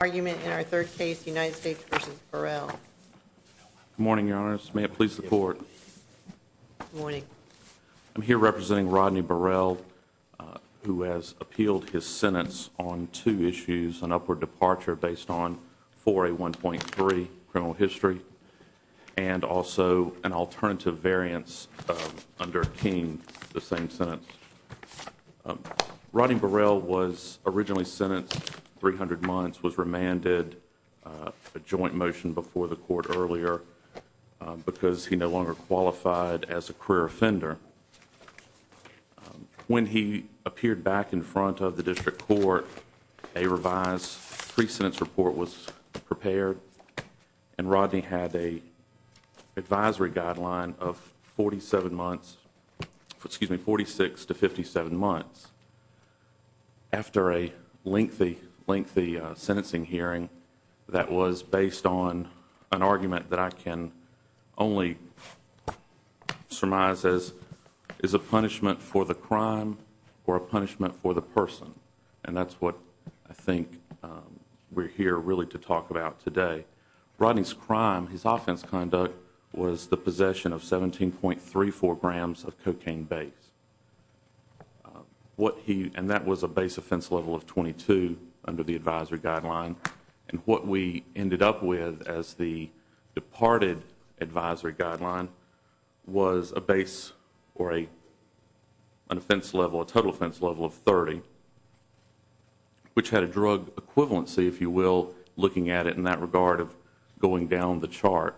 argument in our third case United States v. Burrell. Good morning, Your Honor. May it please the court. Good morning. I'm here representing Rodney Burrell who has appealed his sentence on two issues, an upward departure based on 4A1.3 criminal history and also an alternative variance under King, the same sentence. Rodney Burrell was originally sentenced 300 months, was remanded a joint motion before the court earlier because he no longer qualified as a career offender. When he appeared back in front of the district court, a revised pre-sentence report was prepared and Rodney had a advisory guideline of 47 months, excuse me, 46 to 57 months after a lengthy, lengthy sentencing hearing that was based on an argument that I can only surmise as is a punishment for the crime or a punishment for the person and that's what I think we're here really to talk about today. Rodney's crime, his offense conduct was the possession of 17.34 grams of cocaine base. What he and that was a base offense level of 22 under the advisory guideline and what we ended up with as the departed advisory guideline was a base or a total offense level of 30 which had a drug equivalency if you will looking at it in that regard of going down the chart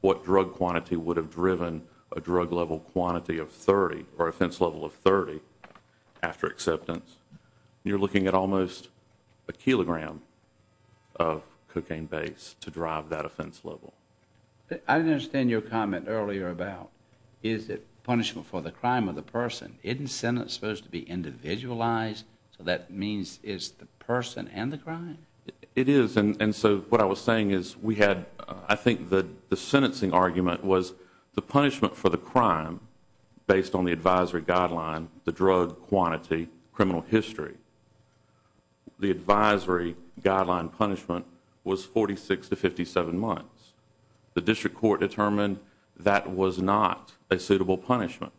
what drug quantity would have driven a drug level quantity of 30 or offense level of 30 after acceptance. You're looking at almost a kilogram of cocaine base to drive that offense level. I didn't understand your comment earlier about is it punishment for the crime of the person. Isn't sentence supposed to be individualized so that means it's the person and the crime? It is and so what I was saying is we had I think that the sentencing argument was the punishment for the crime based on the advisory guideline, the drug quantity, criminal history. The advisory guideline punishment was 46 to 57 months. The district court determined that was not a suitable punishment.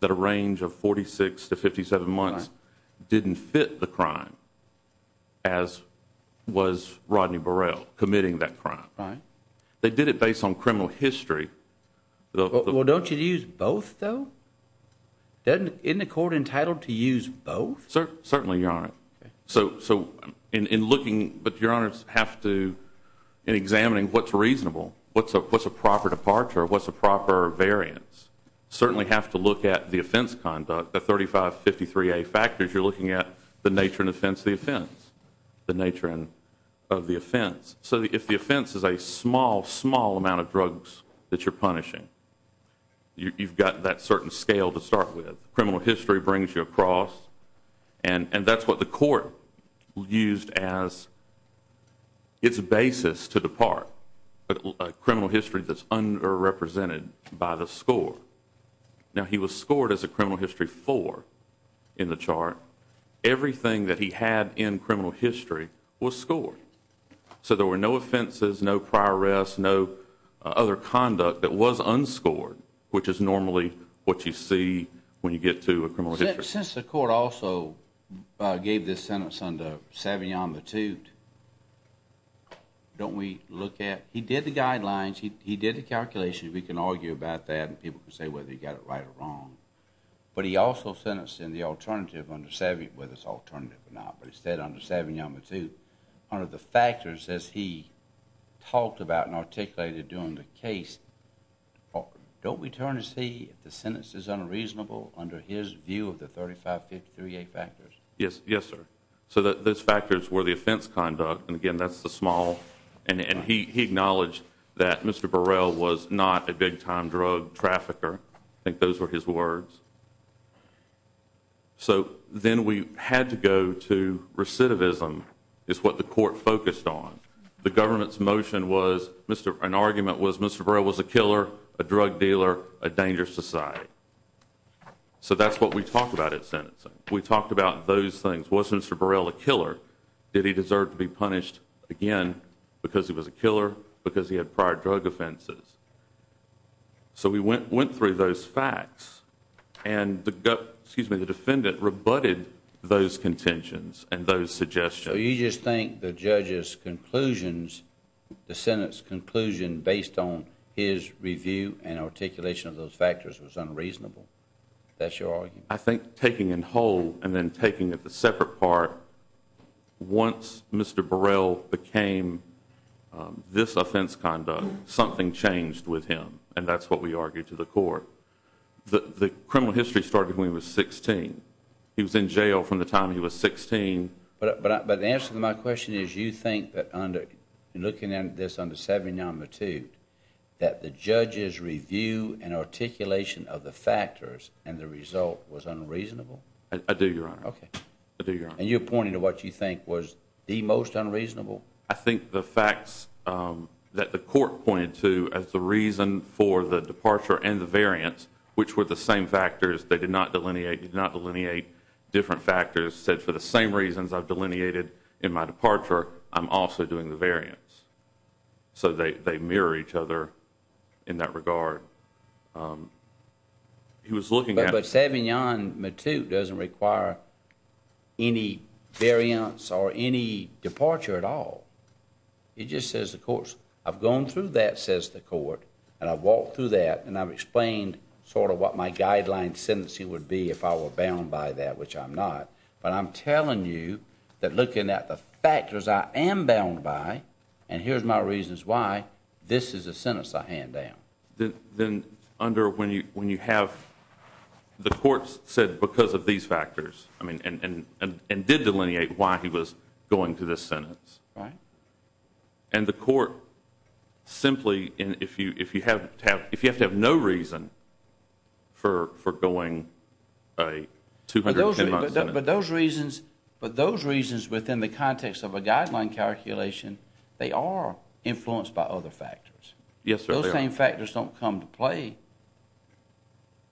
That a range of 46 to 57 months didn't fit the crime as was Rodney Burrell committing that crime. They did it based on criminal history. Well don't you use both though? Isn't the court entitled to use both? Certainly your honor. So in looking but your honors have to in examining what's reasonable what's a proper departure what's a proper variance certainly have to look at the offense conduct the 3553a factors you're looking at the nature and offense the offense the nature and of the offense so if the offense is a small small amount of drugs that you're punishing you've got that certain scale to start with criminal history brings you across and and that's what the court used as its basis to the part a criminal history that's underrepresented by the score now he was scored as a criminal history four in the chart everything that he had in criminal history was scored so there were no offenses no prior arrest no other conduct that was unscored which is normally what you see when you get to a criminal since the court also gave this sentence under Savion the toot don't we look at he did the guidelines he he did the calculations we can argue about that and people can say whether you got it right or wrong but he also sentenced in the alternative under savvy whether it's alternative or not but he said under Savion the toot under the factors as he talked about and articulated during the case don't we the sentence is unreasonable under his view of the 35 53a factors yes yes sir so that those factors were the offense conduct and again that's the small and and he he acknowledged that Mr. Burrell was not a big-time drug trafficker i think those were his words so then we had to go to recidivism is what the court focused on the government's motion was Mr. an argument was Mr. Burrell was a killer a drug dealer a dangerous society so that's what we talked about at sentencing we talked about those things was Mr. Burrell a killer did he deserve to be punished again because he was a killer because he had prior drug offenses so we went went through those facts and the excuse me the defendant rebutted those contentions and conclusion based on his review and articulation of those factors was unreasonable that's your argument i think taking in whole and then taking it the separate part once Mr. Burrell became this offense conduct something changed with him and that's what we argued to the court the the criminal history started when he was 16 he was in jail from the time he was 16 but but the answer to my question is you think that under looking at this under 70 number two that the judges review and articulation of the factors and the result was unreasonable i do your honor okay i do your and you're pointing to what you think was the most unreasonable i think the facts um that the court pointed to as the reason for the departure and the variance which were the same factors they did not delineate did not delineate different factors said for the same reasons i've delineated in my departure i'm also doing the variance so they they mirror each other in that regard um he was looking at but saving yon matute doesn't require any variance or any departure at all it just says of course i've gone through that says the court and i've walked through that and i've explained sort of what my guideline sentencing would be if i were bound by that which i'm not but i'm telling you that looking at the factors i am bound by and here's my reasons why this is a sentence i hand down then under when you when you have the courts said because of these factors i mean and and and did delineate why he was going to this sentence right and the court simply in if you if you have to have if you have to have no reason for for going a 210 but those reasons but those reasons within the context of a guideline calculation they are influenced by other factors yes those same factors don't come to play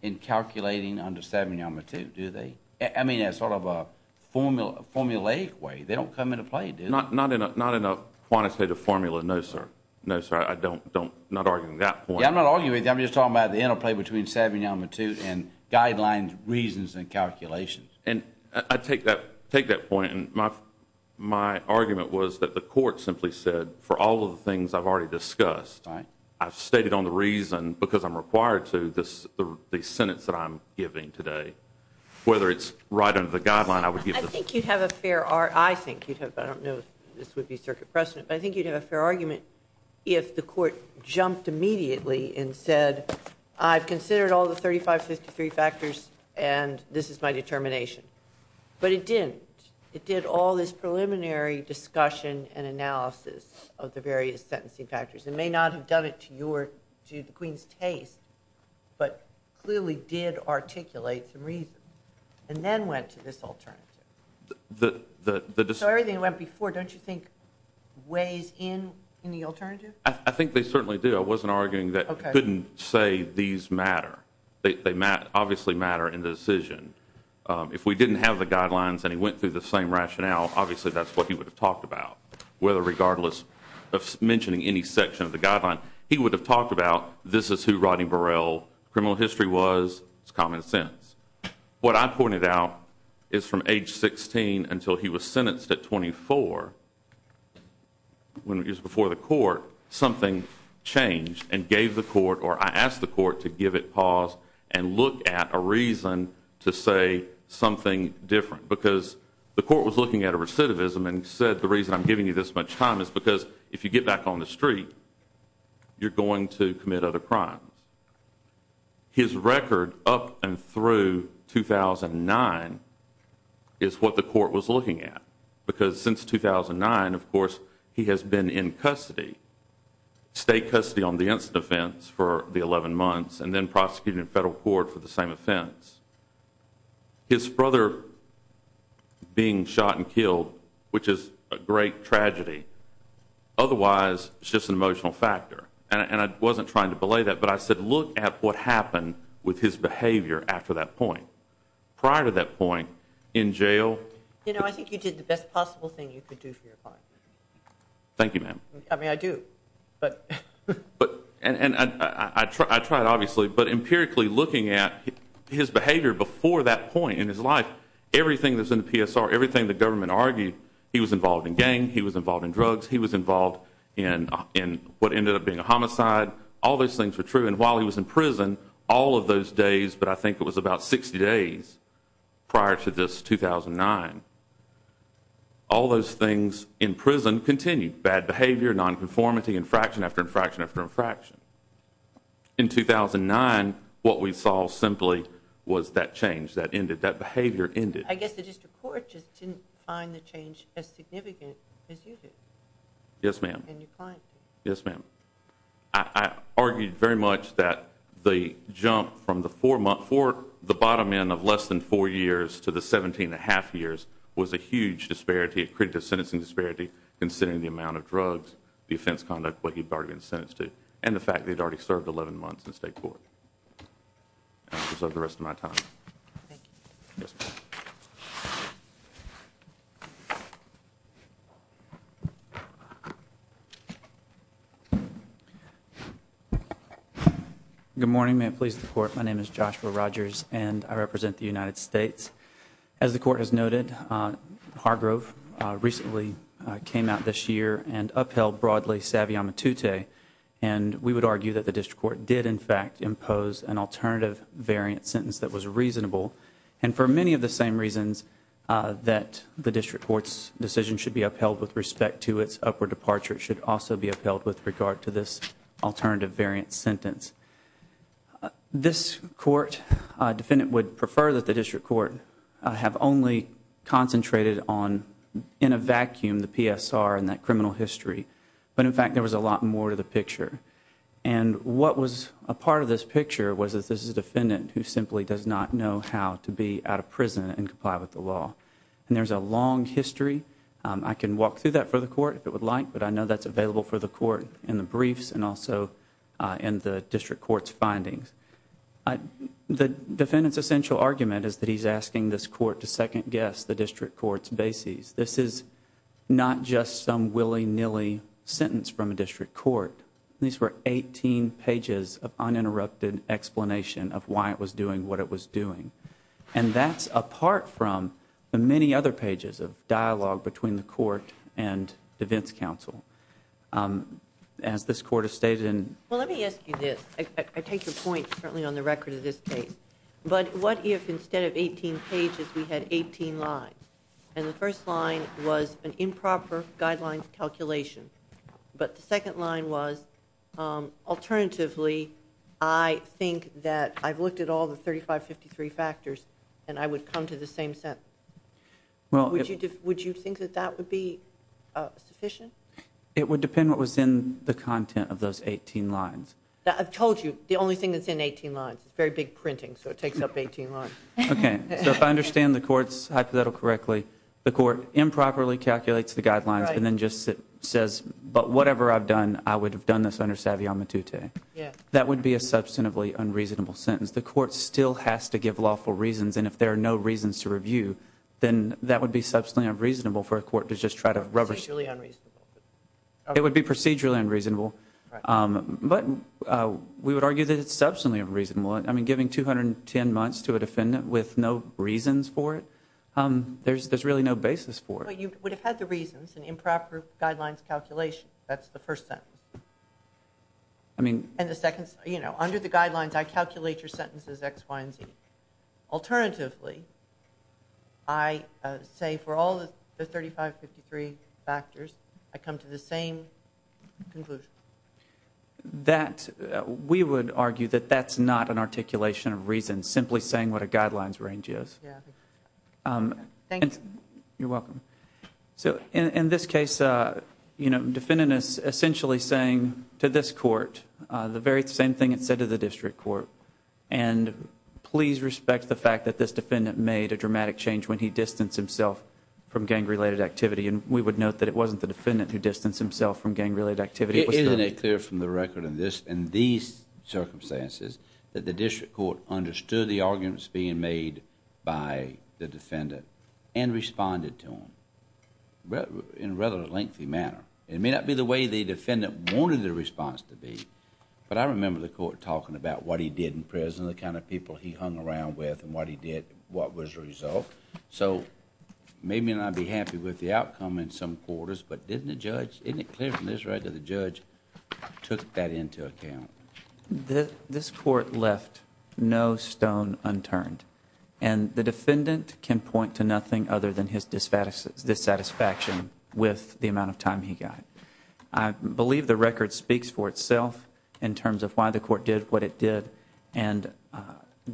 in calculating under seven yama too do they i mean as sort of a formula formulaic way they don't come into play do not not in a not enough quantitative formula no sir no sir i don't don't not arguing that point i'm not arguing i'm just talking about the interplay between seven yama too and guidelines reasons and calculations and i take that take that point and my my argument was that the court simply said for all of the things i've already discussed right i've stated on the reason because i'm required to this the sentence that i'm giving today whether it's right under the guideline i would give them i think you'd have a fair art i think you'd have i don't know this would be circuit precedent but i think you'd have a fair argument if the court jumped immediately and said i've considered all the 35 53 factors and this is my determination but it didn't it did all this preliminary discussion and analysis of the various sentencing factors and may not have done it to your to the queen's taste but clearly did articulate some reason and then went to this alternative the the so everything went before don't you think weighs in in the alternative i think they certainly do i wasn't arguing that couldn't say these matter they matt obviously matter in the decision um if we didn't have the guidelines and he went through the same rationale obviously that's what he would have talked about whether regardless of mentioning any section of the guideline he would have talked about this is criminal history was it's common sense what i pointed out is from age 16 until he was sentenced at 24 when it was before the court something changed and gave the court or i asked the court to give it pause and look at a reason to say something different because the court was looking at a recidivism and said the reason i'm giving you this much time is because if you get back on the ground his record up and through 2009 is what the court was looking at because since 2009 of course he has been in custody state custody on the incident offense for the 11 months and then prosecuted in federal court for the same offense his brother being shot and killed which is a great tragedy otherwise it's just an emotional factor and i wasn't trying to belay that but i said look at what happened with his behavior after that point prior to that point in jail you know i think you did the best possible thing you could do for your father thank you ma'am i mean i do but but and i i tried obviously but empirically looking at his behavior before that point in his life everything that's in the psr everything the government argued he was involved in gang he was involved in drugs he was involved in in what ended up being a homicide all those things were true and while he was in prison all of those days but i think it was about 60 days prior to this 2009 all those things in prison continued bad behavior non-conformity infraction after infraction after infraction in 2009 what we saw simply was that change that ended that behavior ended i guess the district court just didn't find the change as significant as you did yes ma'am yes ma'am i argued very much that the jump from the four month for the bottom end of less than four years to the 17 and a half years was a huge disparity a critical sentencing disparity considering the amount of drugs the already served 11 months in state court so the rest of my time good morning may it please the court my name is joshua rogers and i represent the united states as the court has noted uh hargrove recently came out this year and upheld broadly savvy on matute and we would argue that the district court did in fact impose an alternative variant sentence that was reasonable and for many of the same reasons uh that the district court's decision should be upheld with respect to its upward departure it should also be upheld with regard to this alternative variant sentence uh this court uh defendant would prefer that the district court have only concentrated on in a vacuum the psr and that criminal history but in fact there was a lot more to the picture and what was a part of this picture was that this is a defendant who simply does not know how to be out of prison and comply with the law and there's a long history i can walk through that for the court if it would like but i know that's available for the court in the briefs and also in the district court's findings the defendant's essential argument is that he's asking this court to second guess the district court's bases this is not just some willy-nilly sentence from a district court these were 18 pages of uninterrupted explanation of why it was doing what it was doing and that's apart from the many other pages of dialogue between the court and well let me ask you this i take your point certainly on the record of this case but what if instead of 18 pages we had 18 lines and the first line was an improper guidelines calculation but the second line was um alternatively i think that i've looked at all the 35 53 factors and i would come to the same sentence well would you would you think that that would be sufficient it would depend what was in the content of those 18 lines that i've told you the only thing that's in 18 lines it's very big printing so it takes up 18 lines okay so if i understand the court's hypothetical correctly the court improperly calculates the guidelines and then just says but whatever i've done i would have done this under savvy on matute yeah that would be a substantively unreasonable sentence the court still has to give lawful reasons and if there are reasons to review then that would be substantially unreasonable for a court to just try to rubber it would be procedurally unreasonable um but uh we would argue that it's substantively unreasonable i mean giving 210 months to a defendant with no reasons for it um there's there's really no basis for it but you would have had the reasons and improper guidelines calculation that's the first sentence i mean and the second you know under the guidelines i calculate your i say for all the 35 53 factors i come to the same conclusion that we would argue that that's not an articulation of reason simply saying what a guidelines range is yeah um thank you you're welcome so in this case uh you know defendant is essentially saying to this court uh the very same thing it said to the district court and please respect the fact that this defendant made a dramatic change when he distanced himself from gang-related activity and we would note that it wasn't the defendant who distanced himself from gang-related activity isn't it clear from the record of this in these circumstances that the district court understood the arguments being made by the defendant and responded to him in a rather lengthy manner it may not be the way the defendant wanted the response to be but i remember the court talking about what he did in prison the kind of people he hung around with and what he did what was the result so maybe not be happy with the outcome in some quarters but didn't the judge isn't it clear from this right that the judge took that into account this court left no stone unturned and the defendant can point to nothing other than his dissatisfaction with the amount of time he got i believe the record speaks for itself in terms of why the court did what it did and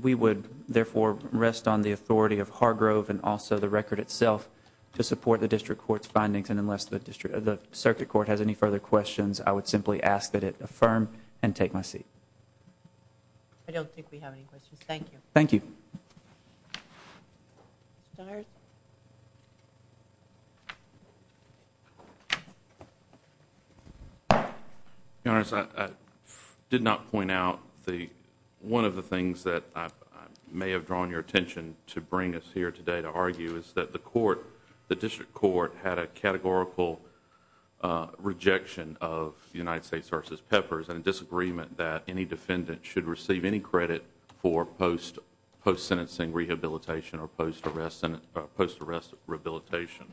we would therefore rest on the authority of hargrove and also the record itself to support the district court's findings and unless the district the circuit court has any further questions i would simply ask that it affirm and take my seat i don't think we have any questions thank you thank you start your honor i did not point out the one of the things that i may have drawn your attention to bring us here today to argue is that the court the district court had a categorical uh rejection of united states versus peppers and a disagreement that any defendant should receive any credit for post post sentencing rehabilitation or post arrest and post arrest rehabilitation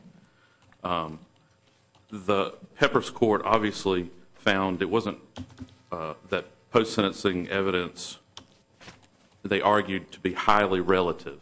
the pepper's court obviously found it wasn't uh that post sentencing evidence they argued to be highly relative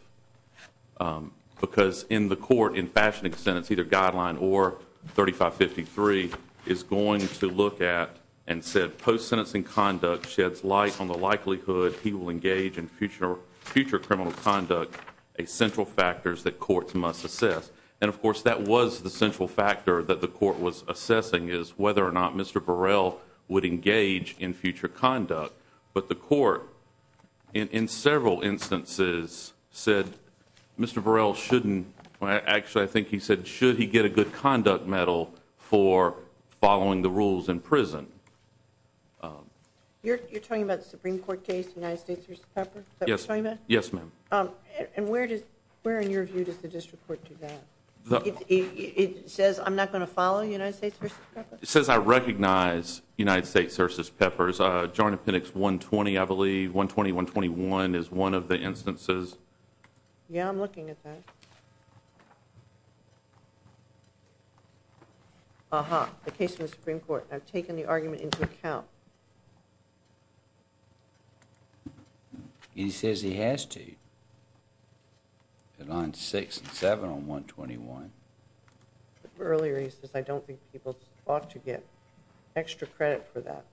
because in the court in fashioning sentence either guideline or 35 53 is going to look at and said post sentencing conduct sheds light on the likelihood he will engage in future future criminal conduct a central factors that courts must assess and of course that was the central factor that the court was assessing is whether or not mr burrell would engage in future conduct but the court in in several instances said mr burrell shouldn't well actually i think he said should he get a good conduct medal for following the rules in prison um you're you're talking about the supreme court case united states pepper yes yes ma'am um and where does where in your view does the district court do that it says i'm not going to follow united states it says i recognize united states versus peppers uh jarnett pinnock's 120 i believe 120 121 is one of the instances yeah i'm looking at that uh-huh the case of the supreme court i've taken the argument into account he says he has to at line six and seven on 121 earlier he says i don't think people ought to get extra credit for that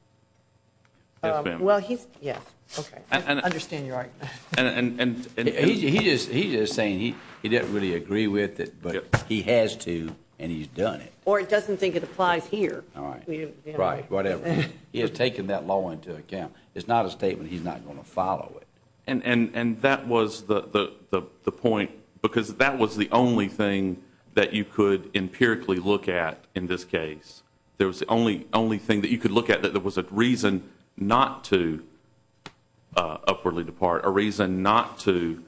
um well he's yes okay i understand your argument and and and he's he's just saying he didn't really agree with it but he has to and he's done it or it doesn't think it applies here all right right whatever he has taken that law into account it's not a statement he's not going to follow it and and and that was the the the point because that was the only thing that you could empirically look at in this case there was the only only thing that you could look at that was a reason not to uh upwardly depart a reason not to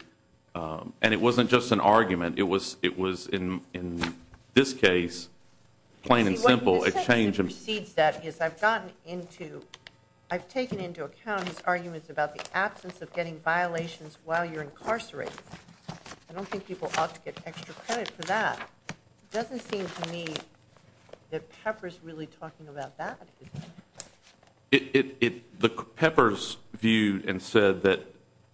um and it wasn't just an argument it was it was in in this case plain and simple exchange proceeds that is i've gotten into i've taken into account his arguments about the absence of getting violations while you're incarcerated i don't think people ought to get extra credit for that it doesn't seem to me that pepper is really talking about that it it the peppers viewed and said that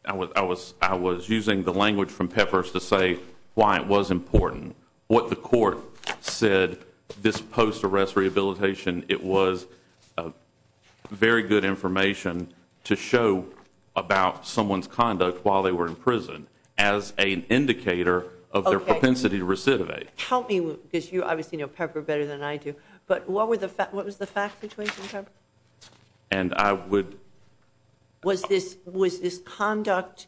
i was i was i was using the language from peppers to say why it was important what the court said this post-arrest rehabilitation it was a very good information to show about someone's conduct while they were in prison as an indicator of their better than i do but what were the fact what was the fact situation and i would was this was this conduct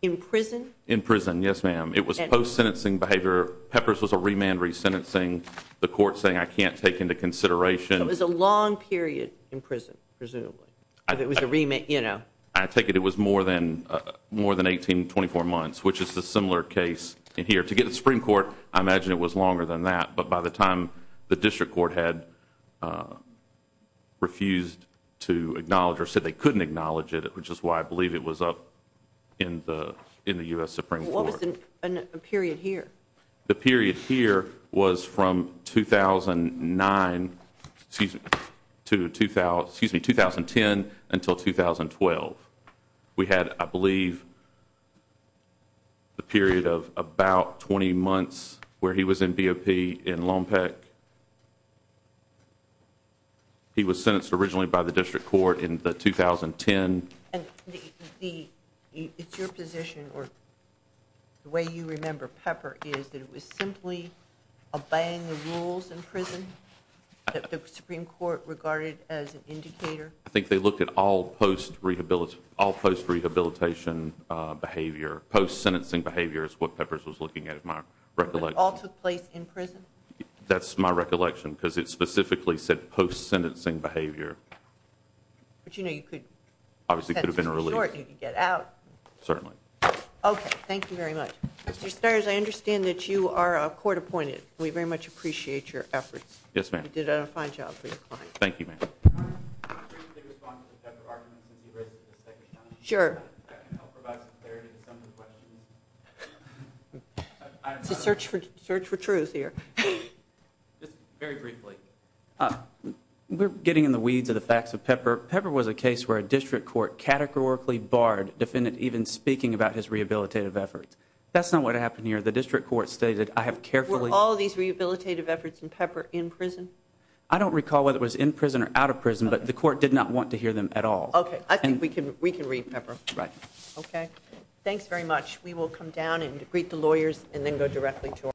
in prison in prison yes ma'am it was post-sentencing behavior peppers was a remand resentencing the court saying i can't take into consideration it was a long period in prison presumably it was a remit you know i take it it was more than uh more than 18 24 months which is a similar case in here to get the supreme court i imagine it was longer than that but by the time the district court had uh refused to acknowledge or said they couldn't acknowledge it which is why i believe it was up in the in the u.s supreme what was in a period here the period here was from 2009 excuse me to 2000 excuse me 2010 until 2012 we had i believe the period of about 20 months where he was in bop in lompec he was sentenced originally by the district court in the 2010 and the it's your position or the way you remember pepper is that it was simply obeying the rules in prison that the supreme court regarded as an indicator i think they looked at all post-rehabilitation all post-rehabilitation behavior post-sentencing behavior is what peppers was looking at if my recollection all took place in prison that's my recollection because it specifically said post-sentencing behavior but you know you could obviously could have been released certainly okay thank you very much mr stairs i understand that you are a court appointed we very much appreciate your efforts yes ma'am you did a fine job for your client thank you i'm going to respond to the pepper argument since you raised it this section sure that can help provide some clarity to some of the questions to search for search for truth here just very briefly uh we're getting in the weeds of the facts of pepper pepper was a case where a district court categorically barred defendant even speaking about his rehabilitative efforts that's not what happened here the district court stated i have carefully all these rehabilitative efforts in pepper in prison i don't recall whether it was in prison or out of prison but the court did not want to hear them at all okay i think we can we can read pepper right okay thanks very much we will come down and greet the lawyers and then go directly to